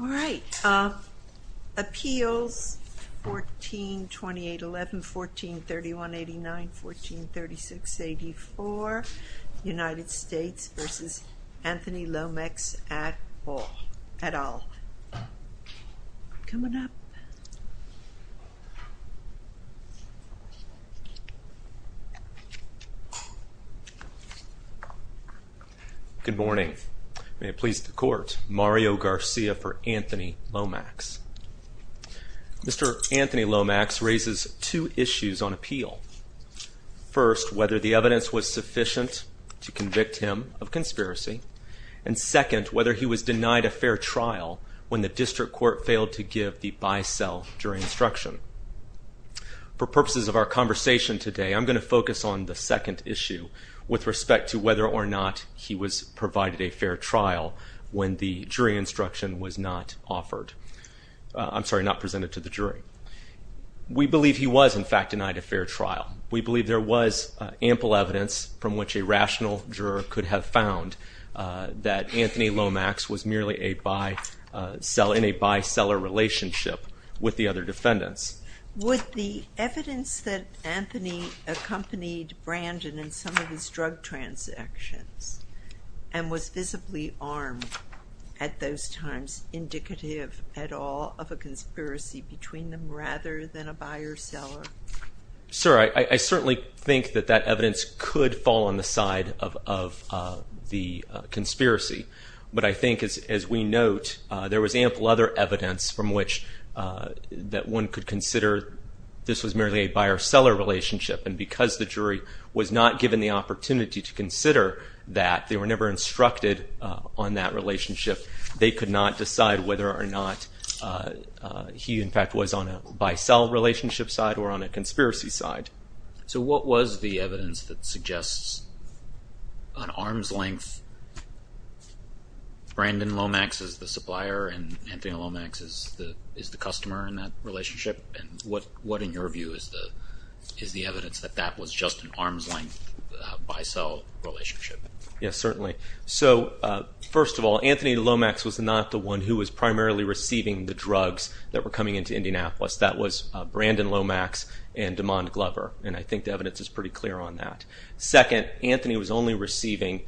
All right. Appeals 142811, 143189, 143684, United States v. Anthony Lomax et al. Good morning. May it please the Court, Mario Garcia for Anthony Lomax. Mr. Anthony Lomax raises two issues on appeal. First, whether the evidence was sufficient to convict him of conspiracy. And second, whether he was denied a fair trial when the district court failed to give the bi-cell jury instruction. For purposes of our conversation today, I'm going to focus on the second issue with respect to whether or not he was provided a fair trial when the jury instruction was not offered. I'm sorry, not presented to the jury. We believe he was, in fact, denied a fair trial. We believe there was ample evidence from which a rational juror could have found that Anthony Lomax was merely in a bi-seller relationship with the other defendants. Would the evidence that Anthony accompanied Brandon in some of his drug transactions and was visibly armed at those times indicative at all of a conspiracy between them rather than a buyer-seller? Sir, I certainly think that that evidence could fall on the side of the conspiracy. But I think, as we note, there was ample other evidence from which one could consider this was merely a buyer-seller relationship. And because the jury was not given the opportunity to consider that, they were never instructed on that relationship, they could not decide whether or not he, in fact, was on a bi-cell relationship side or on a conspiracy side. So what was the evidence that suggests an arm's length? Brandon Lomax is the supplier and Anthony Lomax is the customer in that relationship. And what, in your view, is the evidence that that was just an arm's length bi-cell relationship? Yes, certainly. So first of all, Anthony Lomax was not the one who was primarily receiving the drugs that were coming into Indianapolis. That was Brandon Lomax and DeMond Glover, and I think the evidence is pretty clear on that. Second, Anthony was only receiving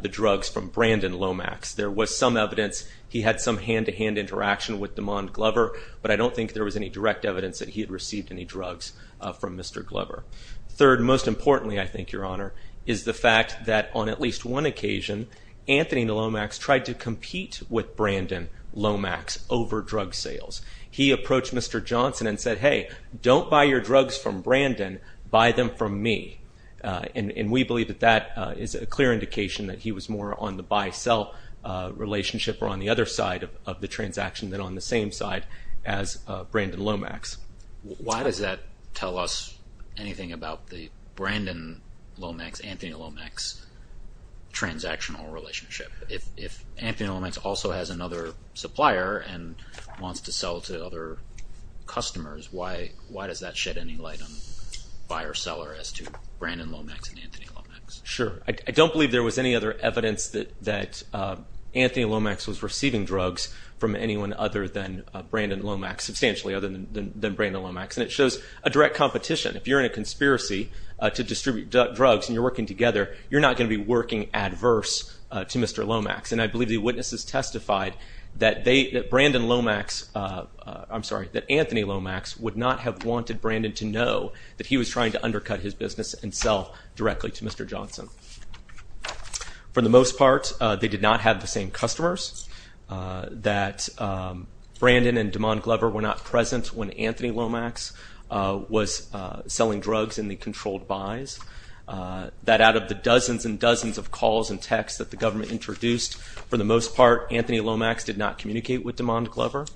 the drugs from Brandon Lomax. There was some evidence he had some hand-to-hand interaction with DeMond Glover, but I don't think there was any direct evidence that he had received any drugs from Mr. Glover. Third, most importantly, I think, Your Honor, is the fact that on at least one occasion, Anthony Lomax tried to compete with Brandon Lomax over drug sales. He approached Mr. Johnson and said, hey, don't buy your drugs from Brandon, buy them from me. And we believe that that is a clear indication that he was more on the bi-cell relationship or on the other side of the transaction than on the same side as Brandon Lomax. Why does that tell us anything about the Brandon Lomax, Anthony Lomax transactional relationship? If Anthony Lomax also has another supplier and wants to sell to other customers, why does that shed any light on buyer-seller as to Brandon Lomax and Anthony Lomax? Sure. I don't believe there was any other evidence that Anthony Lomax was receiving drugs from anyone other than Brandon Lomax, substantially other than Brandon Lomax, and it shows a direct competition. If you're in a conspiracy to distribute drugs and you're working together, you're not going to be working adverse to Mr. Lomax. And I believe the witnesses testified that they, that Brandon Lomax, I'm sorry, that Anthony Lomax would not have wanted Brandon to know that he was trying to undercut his business and sell directly to Mr. Johnson. For the most part, they did not have the same customers, that Brandon and DeMond Glover were not present when Anthony Lomax was selling drugs in the controlled buys, that out of the dozens and dozens of calls and texts that the government introduced, for the most part, Anthony Lomax did not communicate with DeMond Glover,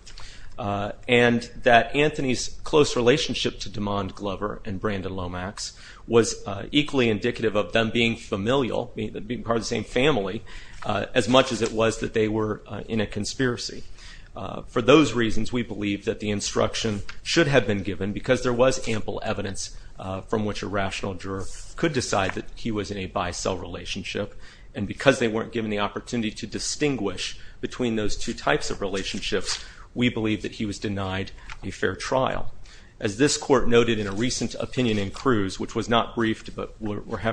and that Anthony's close relationship to DeMond Glover and Brandon Lomax was equally indicative of them being familial, being part of the same family, as much as it was that they were in a conspiracy. For those reasons, we believe that the instruction should have been given because there was ample evidence from which a rational juror could decide that he was in a buy-sell relationship, and because they weren't given the opportunity to distinguish between those two types of relationships, we believe that he was denied a fair trial. As this court noted in a recent opinion in Cruz, which was not that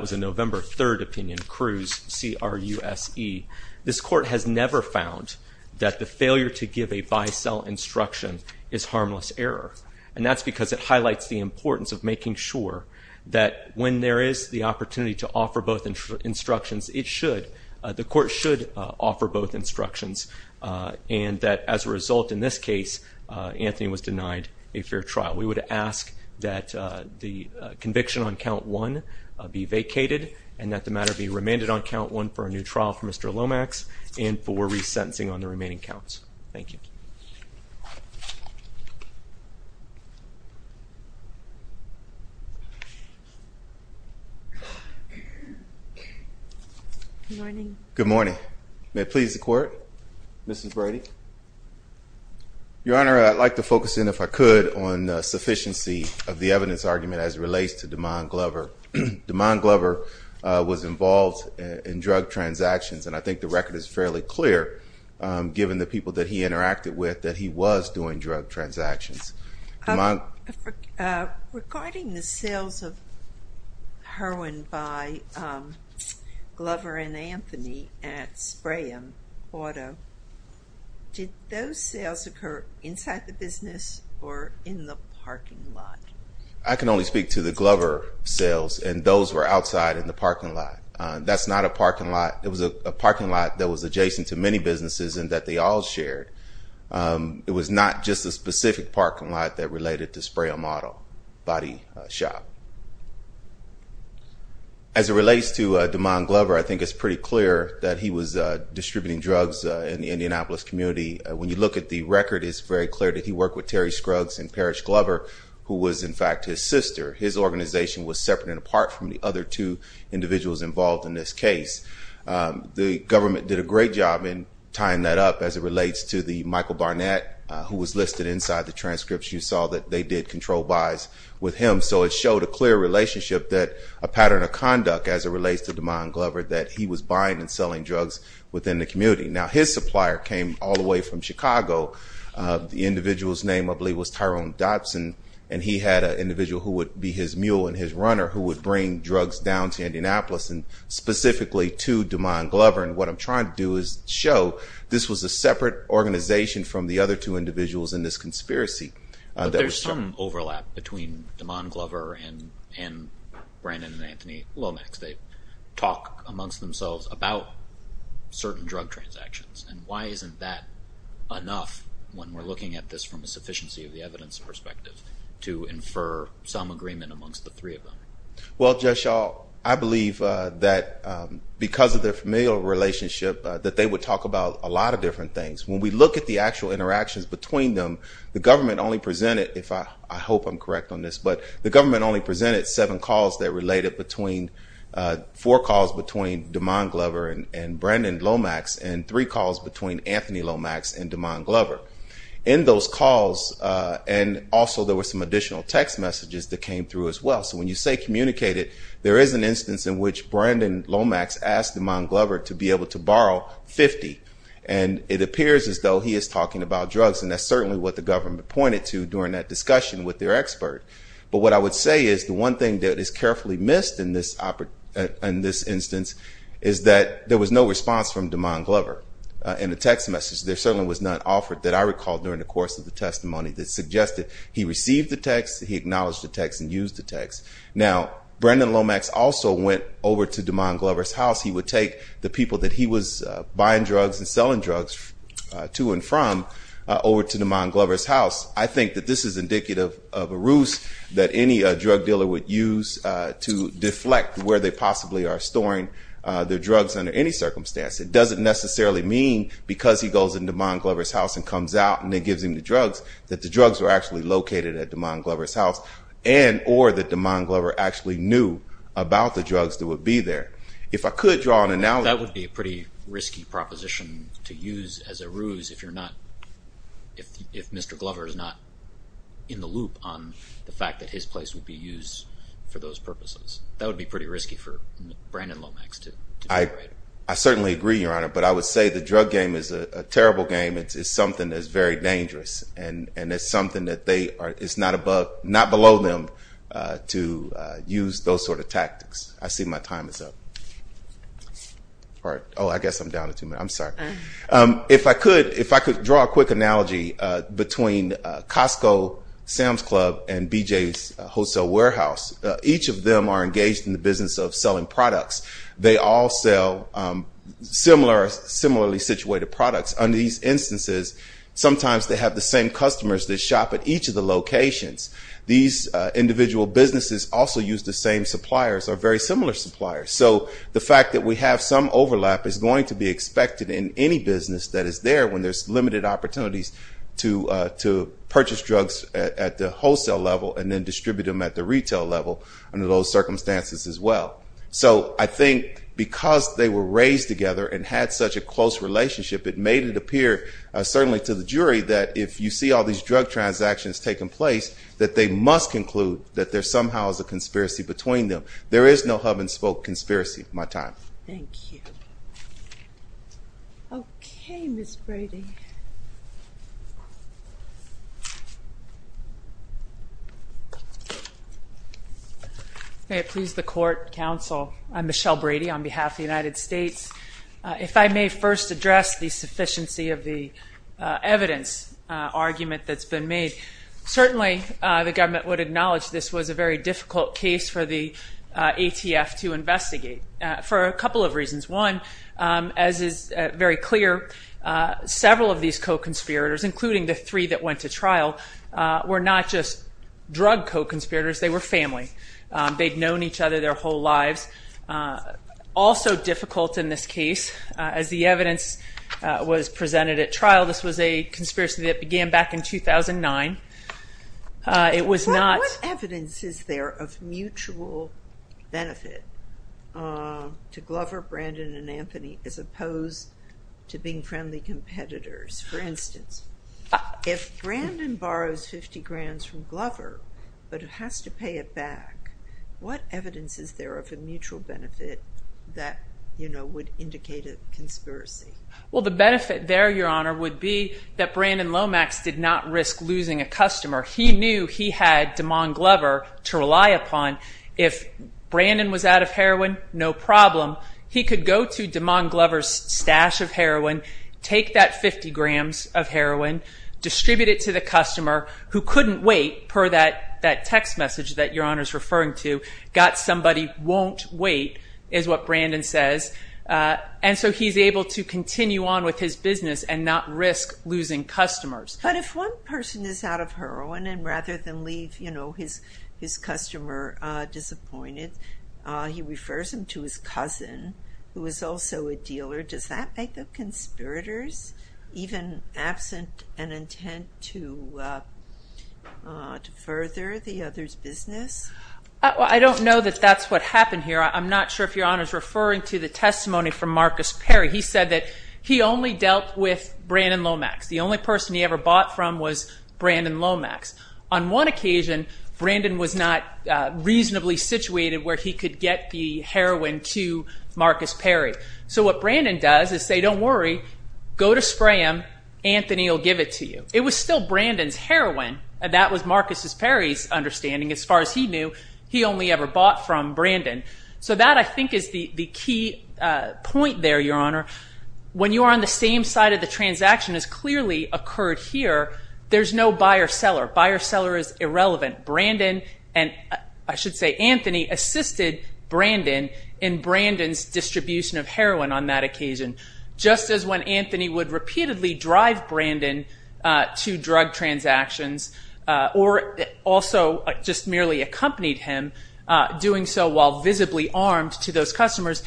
was a November 3rd opinion, Cruz, C-R-U-S-E, this court has never found that the failure to give a buy-sell instruction is harmless error, and that's because it highlights the importance of making sure that when there is the opportunity to offer both instructions, it should, the court should offer both instructions, and that as a result, in this case, Anthony was denied a fair trial. We would ask that the conviction on count one be vacated, and that the matter be remanded on count one for a new trial for Mr. Lomax, and for resentencing on the remaining counts. Thank you. Good morning. Good morning. May it please the court, Mrs. Brady. Your Honor, I'd like to focus in, if I could, on sufficiency of the evidence argument as it relates to DeMond Glover. DeMond Glover was involved in drug transactions, and I think the record is fairly clear, given the people that he interacted with, that he was doing drug transactions. Regarding the sales of heroin by Glover and Anthony at Sprayum Auto, did those sales occur inside the business, or in the parking lot? I can only speak to the Glover sales, and those were outside in the parking lot. That's not a parking lot. It was a parking lot that was adjacent to many businesses, and that they all shared. It was not just a specific parking lot that related to Sprayum Auto body shop. As it relates to DeMond Glover, I think it's pretty clear that he was involved in the Indianapolis community. When you look at the record, it's very clear that he worked with Terry Scruggs and Parrish Glover, who was, in fact, his sister. His organization was separate and apart from the other two individuals involved in this case. The government did a great job in tying that up as it relates to the Michael Barnett, who was listed inside the transcripts. You saw that they did control buys with him, so it showed a clear relationship, a pattern of conduct, as it relates to DeMond Glover, that he was buying and selling drugs within the community. Now, his supplier came all the way from Chicago. The individual's name, I believe, was Tyrone Dotson, and he had an individual who would be his mule and his runner who would bring drugs down to Indianapolis, specifically to DeMond Glover. What I'm trying to do is show this was a separate organization from the other two in Brandon and Anthony Lomax. They talk amongst themselves about certain drug transactions, and why isn't that enough when we're looking at this from a sufficiency of the evidence perspective to infer some agreement amongst the three of them? Well, Judge Shaw, I believe that because of their familial relationship, that they would talk about a lot of different things. When we look at the actual seven calls that related between, four calls between DeMond Glover and Brandon Lomax, and three calls between Anthony Lomax and DeMond Glover. In those calls, and also there were some additional text messages that came through as well. So when you say communicated, there is an instance in which Brandon Lomax asked DeMond Glover to be able to borrow 50, and it appears as though he is talking about something that is carefully missed in this instance, is that there was no response from DeMond Glover in the text message. There certainly was none offered that I recall during the course of the testimony that suggested he received the text, he acknowledged the text, and used the text. Now, Brandon Lomax also went over to DeMond Glover's house. He would take the people that he was buying drugs and selling drugs to and from over to DeMond Glover's house. I think that this is indicative of a ruse that any drug dealer would use to deflect where they possibly are storing their drugs under any circumstance. It doesn't necessarily mean, because he goes into DeMond Glover's house and comes out and gives him the drugs, that the drugs were actually located at DeMond Glover's house, and or that DeMond Glover actually knew about the drugs that would be there. That would be a pretty risky proposition to use as a ruse if you're not, if Mr. Glover is not in the loop on the fact that his place would be used for those purposes. That would be pretty risky for Brandon Lomax. I certainly agree, Your Honor, but I would say the drug game is a terrible game. It's something that's very dangerous, and it's something that they, it's not above, not below them to use those sort of tactics. I see my time is up. All right. Oh, I guess I'm down to two minutes. I'm sorry. If I could, if I could draw a quick analogy between Costco, Sam's Club, and BJ's Wholesale Warehouse. Each of them are engaged in the business of selling products. They all sell similar, similarly situated products. Under these instances, sometimes they have the same customers that shop at each of the locations. These individual businesses also use the same suppliers or very similar suppliers. So the fact that we have some overlap is going to be expected in any business that is there when there's limited opportunities to purchase drugs at the wholesale level and then distribute them at the retail level under those circumstances as well. So I think because they were raised together and had such a close relationship, it made it appear certainly to the jury that if you see all these drug transactions taking place that they must conclude that there somehow is a conspiracy between them. There is no hub and spoke conspiracy. My time. Thank you. Okay, Ms. Brady. May it please the court, counsel. I'm Michelle Brady on behalf of the United States. If I may first address the sufficiency of the evidence argument that's been made. Certainly the government would acknowledge this was a very difficult case for the ATF to investigate for a couple of reasons. One, as is very clear, several of these co-conspirators including the three that went to trial were not just drug co-conspirators. They were family. They'd known each other their whole lives. Also difficult in this case as the evidence was presented at trial. This was a conspiracy that began back in 2009. It was not. What evidence is there of mutual benefit to Glover, Brandon, and Anthony as opposed to being friendly competitors? For instance, if Brandon borrows $50,000 from Glover but has to pay it back, what evidence is there of a mutual benefit that would indicate a conspiracy? Well, the benefit there, Your Honor, would be that Brandon Lomax did not risk losing a customer. He knew he had DeMond Glover to rely upon. If Brandon was out of heroin, no problem. He could go to DeMond Glover's stash of heroin, take that 50 grams of heroin, distribute it to the customer who couldn't wait per that text message that Your Honor is referring to. Got somebody, won't wait, is what Brandon says. And so he's able to continue on with his business and not risk losing customers. But if one person is out of heroin and rather than leave his customer disappointed, he refers him to his cousin, who is also a dealer, does that make the conspirators even absent and intent to further the other's business? I don't know that that's what happened here. I'm not sure if Your Honor is referring to the testimony from Marcus Perry. He said that he only dealt with Brandon Lomax. The only person he ever bought from was Brandon Lomax. On one occasion, Brandon was not reasonably situated where he could get the heroin to Marcus Perry. So what Brandon does is say, don't worry, go to Spram, Anthony will give it to you. It was still Brandon's heroin. That was Marcus Perry's understanding. As far as he knew, he only ever bought from Brandon. So that I think is the key point there, Your Honor. When you are on the same side of the transaction as clearly occurred here, there's no buyer-seller. Buyer-seller is irrelevant. Brandon and I should say Anthony assisted Brandon in Brandon's distribution of heroin on that occasion. Just as when Anthony would repeatedly drive Brandon to drug transactions or also just merely accompanied him doing so while visibly armed to those customers,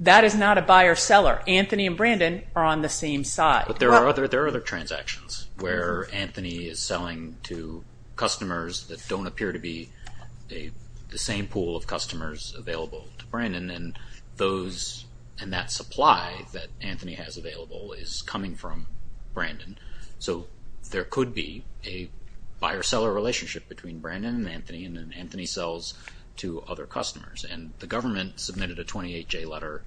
that is not a buyer-seller. Anthony and Brandon are on the same side. But there are other transactions where Anthony is selling to customers that don't appear to be the same pool of customers available to Brandon. And that supply that Anthony has available is coming from Brandon. So there could be a buyer-seller relationship between Brandon and Anthony, and then Anthony sells to other customers. The government submitted a buyer-seller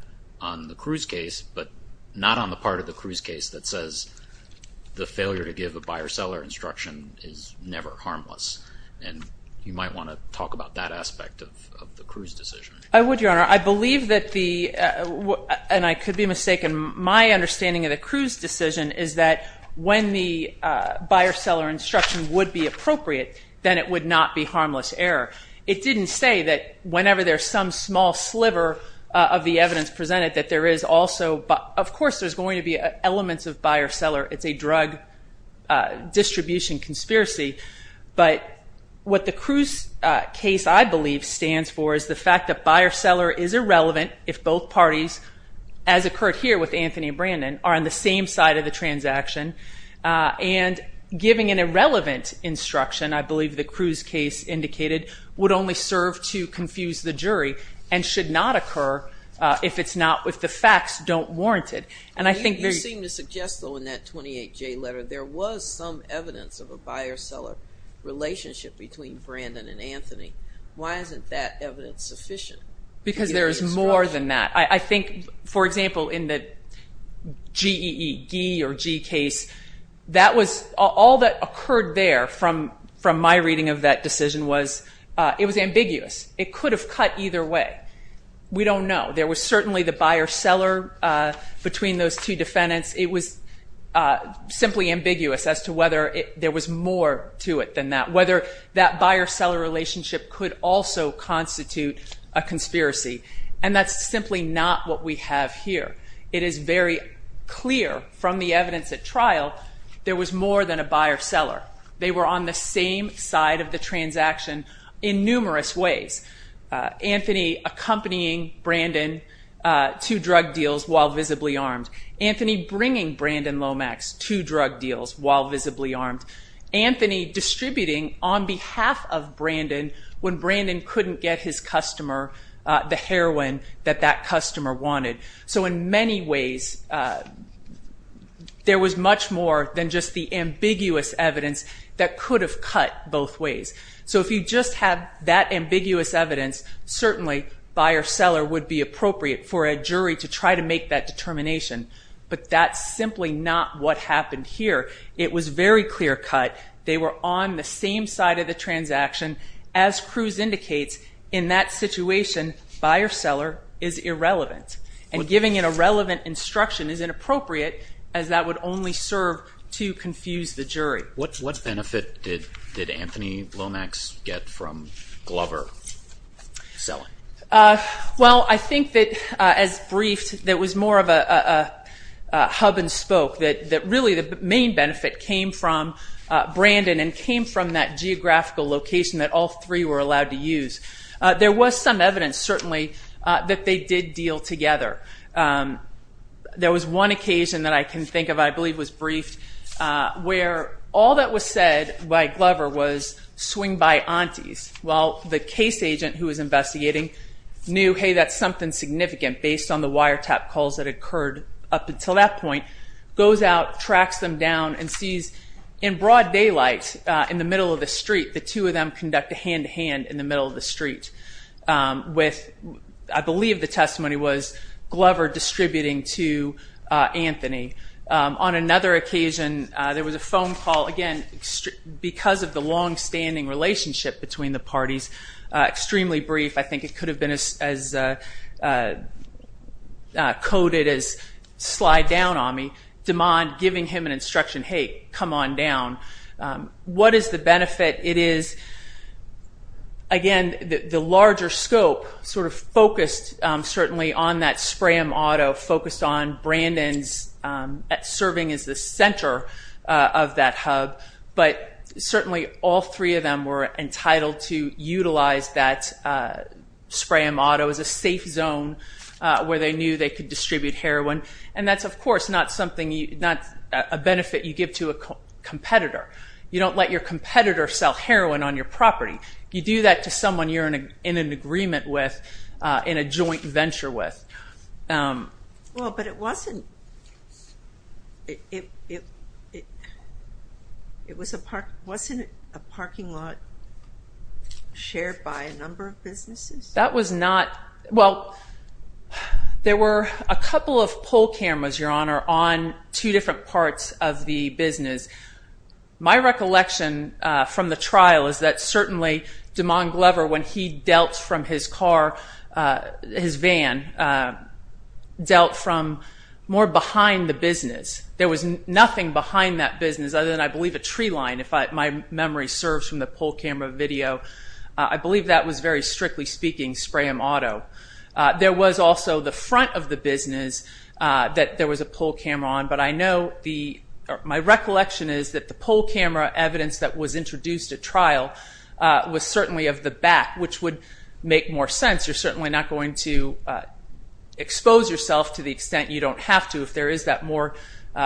instruction is never harmless. And you might want to talk about that aspect of the Cruz decision. I would, Your Honor. I believe that the, and I could be mistaken, my understanding of the Cruz decision is that when the buyer-seller instruction would be appropriate, then it would not be harmless error. It didn't say that whenever there's some small sliver of the evidence presented that there is also, of course there's going to be elements of buyer-seller. It's a drug distribution conspiracy. But what the Cruz case, I believe, stands for is the fact that buyer-seller is irrelevant if both parties, as occurred here with Anthony and Brandon, are on the same side of the transaction. And giving an irrelevant instruction, I believe the Cruz case indicated, would only serve to confuse the jury and should not occur if the facts don't warrant it. You seem to suggest, though, in that 28J letter, there was some evidence of a buyer-seller relationship between Brandon and Anthony. Why isn't that evidence sufficient? Because there is more than that. I think, for example, in the reading of that decision, it was ambiguous. It could have cut either way. We don't know. There was certainly the buyer-seller between those two defendants. It was simply ambiguous as to whether there was more to it than that. Whether that buyer-seller relationship could also constitute a conspiracy. And that's simply not what we have here. It is very clear from the evidence at trial there was more than a buyer-seller. They were on the same side of the transaction in numerous ways. Anthony accompanying Brandon to drug deals while visibly armed. Anthony bringing Brandon Lomax to drug deals while visibly armed. Anthony distributing on behalf of Brandon when Brandon couldn't get his There was much more than just the ambiguous evidence that could have cut both ways. So if you just have that ambiguous evidence, certainly buyer-seller would be appropriate for a jury to try to make that determination. But that's simply not what happened here. It was very clear cut. They were on the same side of the transaction. As Cruz indicates, in that situation, buyer-seller is irrelevant. And giving an irrelevant instruction is inappropriate as that would only serve to confuse the jury. What benefit did Anthony Lomax get from Glover selling? Well, I think that as briefed, there was more of a hub and spoke that really the main benefit came from that geographical location that all three were allowed to use. There was some evidence, certainly, that they did deal together. There was one occasion that I can think of, I believe was briefed, where all that was said by Glover was, swing by aunties, while the case agent who was investigating knew, hey, that's something significant based on the wiretap calls that occurred up to that point, goes out, tracks them down, and sees in broad daylight in the middle of the street, the two of them conduct a hand-to-hand in the middle of the street. I believe the testimony was Glover distributing to Anthony. On another occasion, there was a phone call, again, because of the long-standing relationship between the parties, extremely brief, I think it could have been as coded as, slide down on me, demand, giving him an instruction, hey, come on down. What is the benefit? It is, again, the larger scope sort of focused, certainly, on that Spram Auto, focused on Brandon's serving as the center of that hub, but certainly all three of them were entitled to utilize that Spram Auto as a safe zone where they knew they could distribute heroin, and that's, of course, not a benefit you give to a competitor. You don't let your competitor sell heroin on your property. You do that to someone you're in an agreement with, in a joint Wasn't a parking lot shared by a number of businesses? That was not, well, there were a couple of poll cameras, Your Honor, on two different parts of the business. My recollection from the trial is that certainly DeMond Glover, when he dealt from his car, his van, dealt from more behind the business. There was nothing behind that business other than, I believe, a tree line, if my memory serves from the poll camera video. I believe that was, very strictly speaking, Spram Auto. There was also the front of the business that there was a poll camera on, but I know, my recollection is that the poll camera evidence that was introduced at trial was certainly of the back, which would make more sense. You're certainly not going to expose yourself to the extent you don't have to if there is that more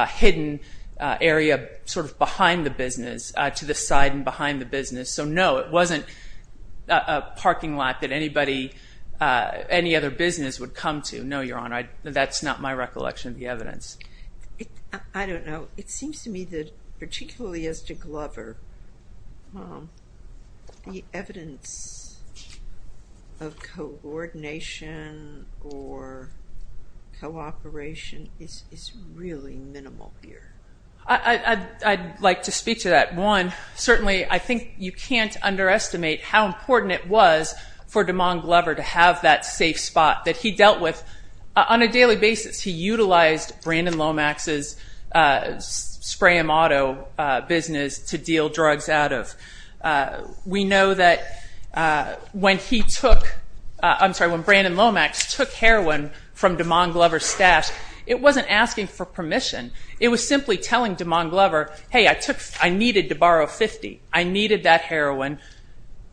hidden area sort of behind the business, to the side and behind the business. So no, it wasn't a parking lot that anybody, any other business would come to. No, Your Honor, that's not my recollection of the evidence. I don't know. It seems to me that, particularly as to Glover, the evidence of coordination or cooperation is really minimal here. I'd like to speak to that. One, certainly, I think you can't underestimate how he utilized Brandon Lomax's Spram Auto business to deal drugs out of. We know that when he took, I'm sorry, when Brandon Lomax took heroin from DeMond Glover's stash, it wasn't asking for permission. It was simply telling DeMond Glover, hey, I needed to borrow 50. I needed that heroin,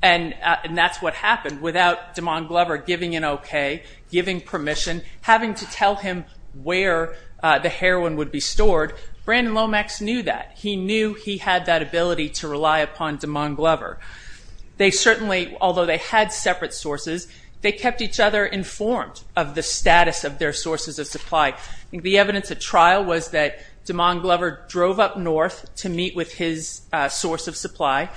and that's what happened. Without DeMond Glover giving an okay, giving permission, having to tell him where the heroin would be stored, Brandon Lomax knew that. He knew he had that ability to rely upon DeMond Glover. They certainly, although they had separate sources, they kept each other informed of the status of their sources of supply. The evidence at trial was that DeMond Glover drove up north to meet with his source of supply,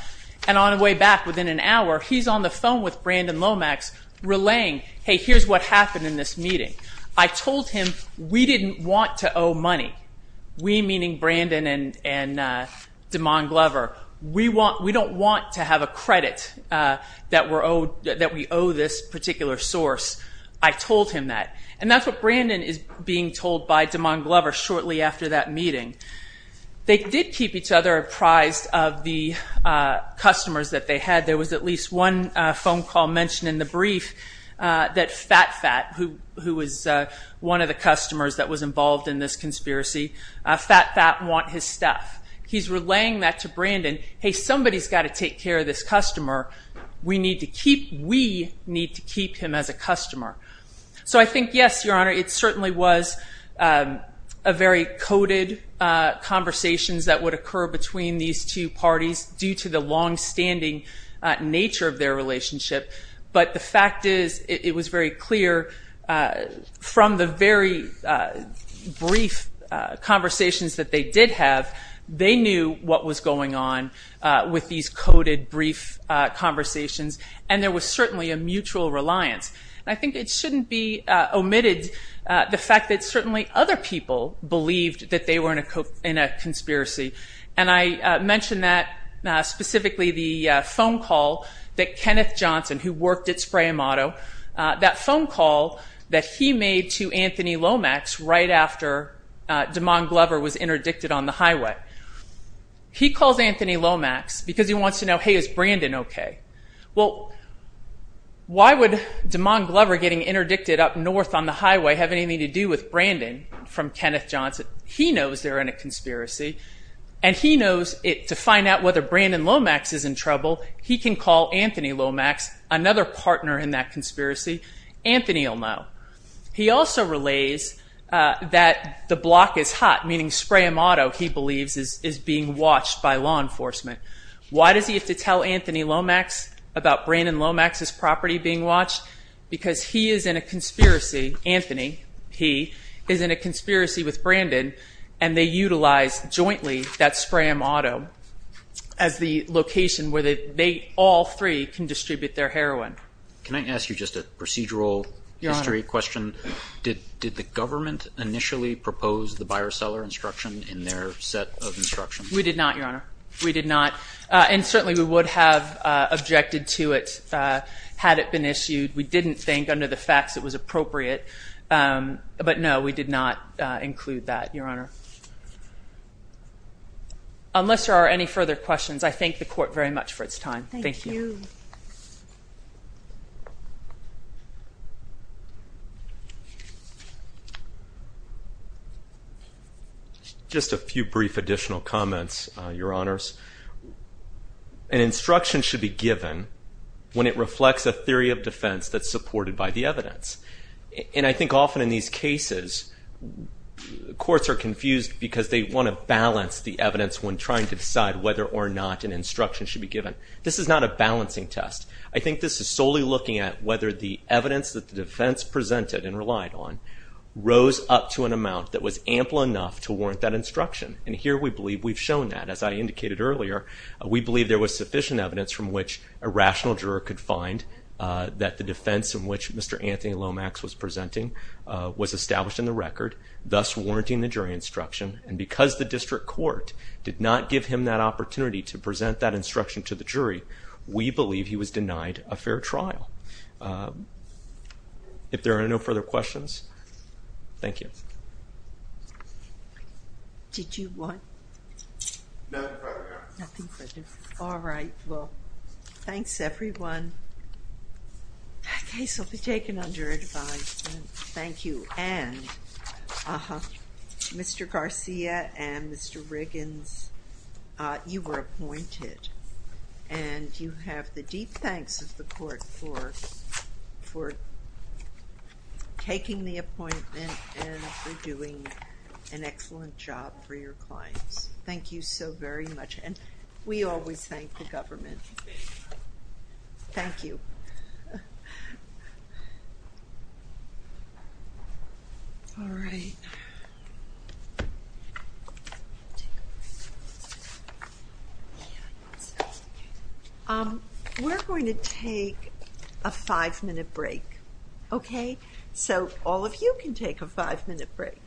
and on the way back, within an hour, he's on the phone with Brandon Lomax relaying, hey, here's what happened in this meeting. I told him we didn't want to owe money. We, meaning Brandon and DeMond Glover, we don't want to have a credit that we owe this particular source. I told him that. And that's what Brandon is being told by DeMond Glover shortly after that meeting. They did keep each other apprised of the customers that they had. There was at least one phone call mentioned in the brief that Fat Fat, who was one of the customers that was involved in this conspiracy, Fat Fat want his stuff. He's relaying that to Brandon. Hey, somebody's got to take care of this customer. We need to keep, we need to keep him as a customer. So I think, yes, Your Honor, it certainly was a very coded conversation that would occur between these two parties due to the longstanding nature of their relationship. But the fact is, it was very clear from the very brief conversations that they did have, they knew what was going on with these coded brief conversations. And there was certainly a mutual reliance. I think it shouldn't be omitted the fact that certainly other people believed that they were in a conspiracy. And I mentioned that, specifically the phone call that Kenneth Johnson, who worked at Spray & Auto, that phone call that he made to Anthony Lomax right after DeMond Glover was interdicted on the highway. He calls Anthony Lomax because he wants to know, hey, is Brandon okay? Well, why would DeMond Glover getting interdicted up north on the highway have anything to do with Brandon from Kenneth Johnson? He knows they're in a conspiracy and he knows to find out whether Brandon Lomax is in trouble, he can call Anthony Lomax, another partner in that conspiracy. Anthony will know. He also relays that the block is hot, meaning Spray & Auto, he believes, is being watched by law enforcement. Why does he have to tell Anthony Lomax about Brandon Lomax's property being watched? Because he is in a conspiracy, Anthony, he is in a conspiracy with Brandon, and they utilize jointly that Spray & Auto as the location where they all three can distribute their heroin. Can I ask you just a procedural history question? Did the government initially propose the buyer-seller instruction in their set of instructions? We did not, Your Honor. We did not. And certainly we would have objected to it had it been issued. We didn't think under the facts it was appropriate. But no, we did not include that, Your Honor. Unless there are any further questions, I thank the Court very much for its time. Thank you. Just a few brief additional comments, Your Honors. An instruction should be given when it reflects a theory of defense that's supported by the evidence. And I think often in these cases, courts are confused because they want to balance the evidence when trying to decide whether or not an instruction should be given. This is not a balancing test. I think this is solely looking at whether the evidence that the defense presented and relied on rose up to an amount that was ample enough to warrant that instruction. And here we believe we've shown that. As I indicated earlier, we believe there was sufficient evidence from which a rational juror could find that the defense in which Mr. Anthony Lomax was presenting was established in the record, thus warranting the jury instruction. And because the District Court did not give him that opportunity to present that instruction to the jury, we believe he was denied a fair trial. If there are no further questions, thank you. All right. Well, thanks everyone. That case will be taken under advice. Thank you. And Mr. Garcia and Mr. Riggins, you were appointed. And you have the deep thanks of the Court for taking the appointment and for doing an excellent job for your clients. Thank you so very much. And we always thank the government. Thank you. We're going to take a five-minute break. Okay? So all of you can take a five-minute break.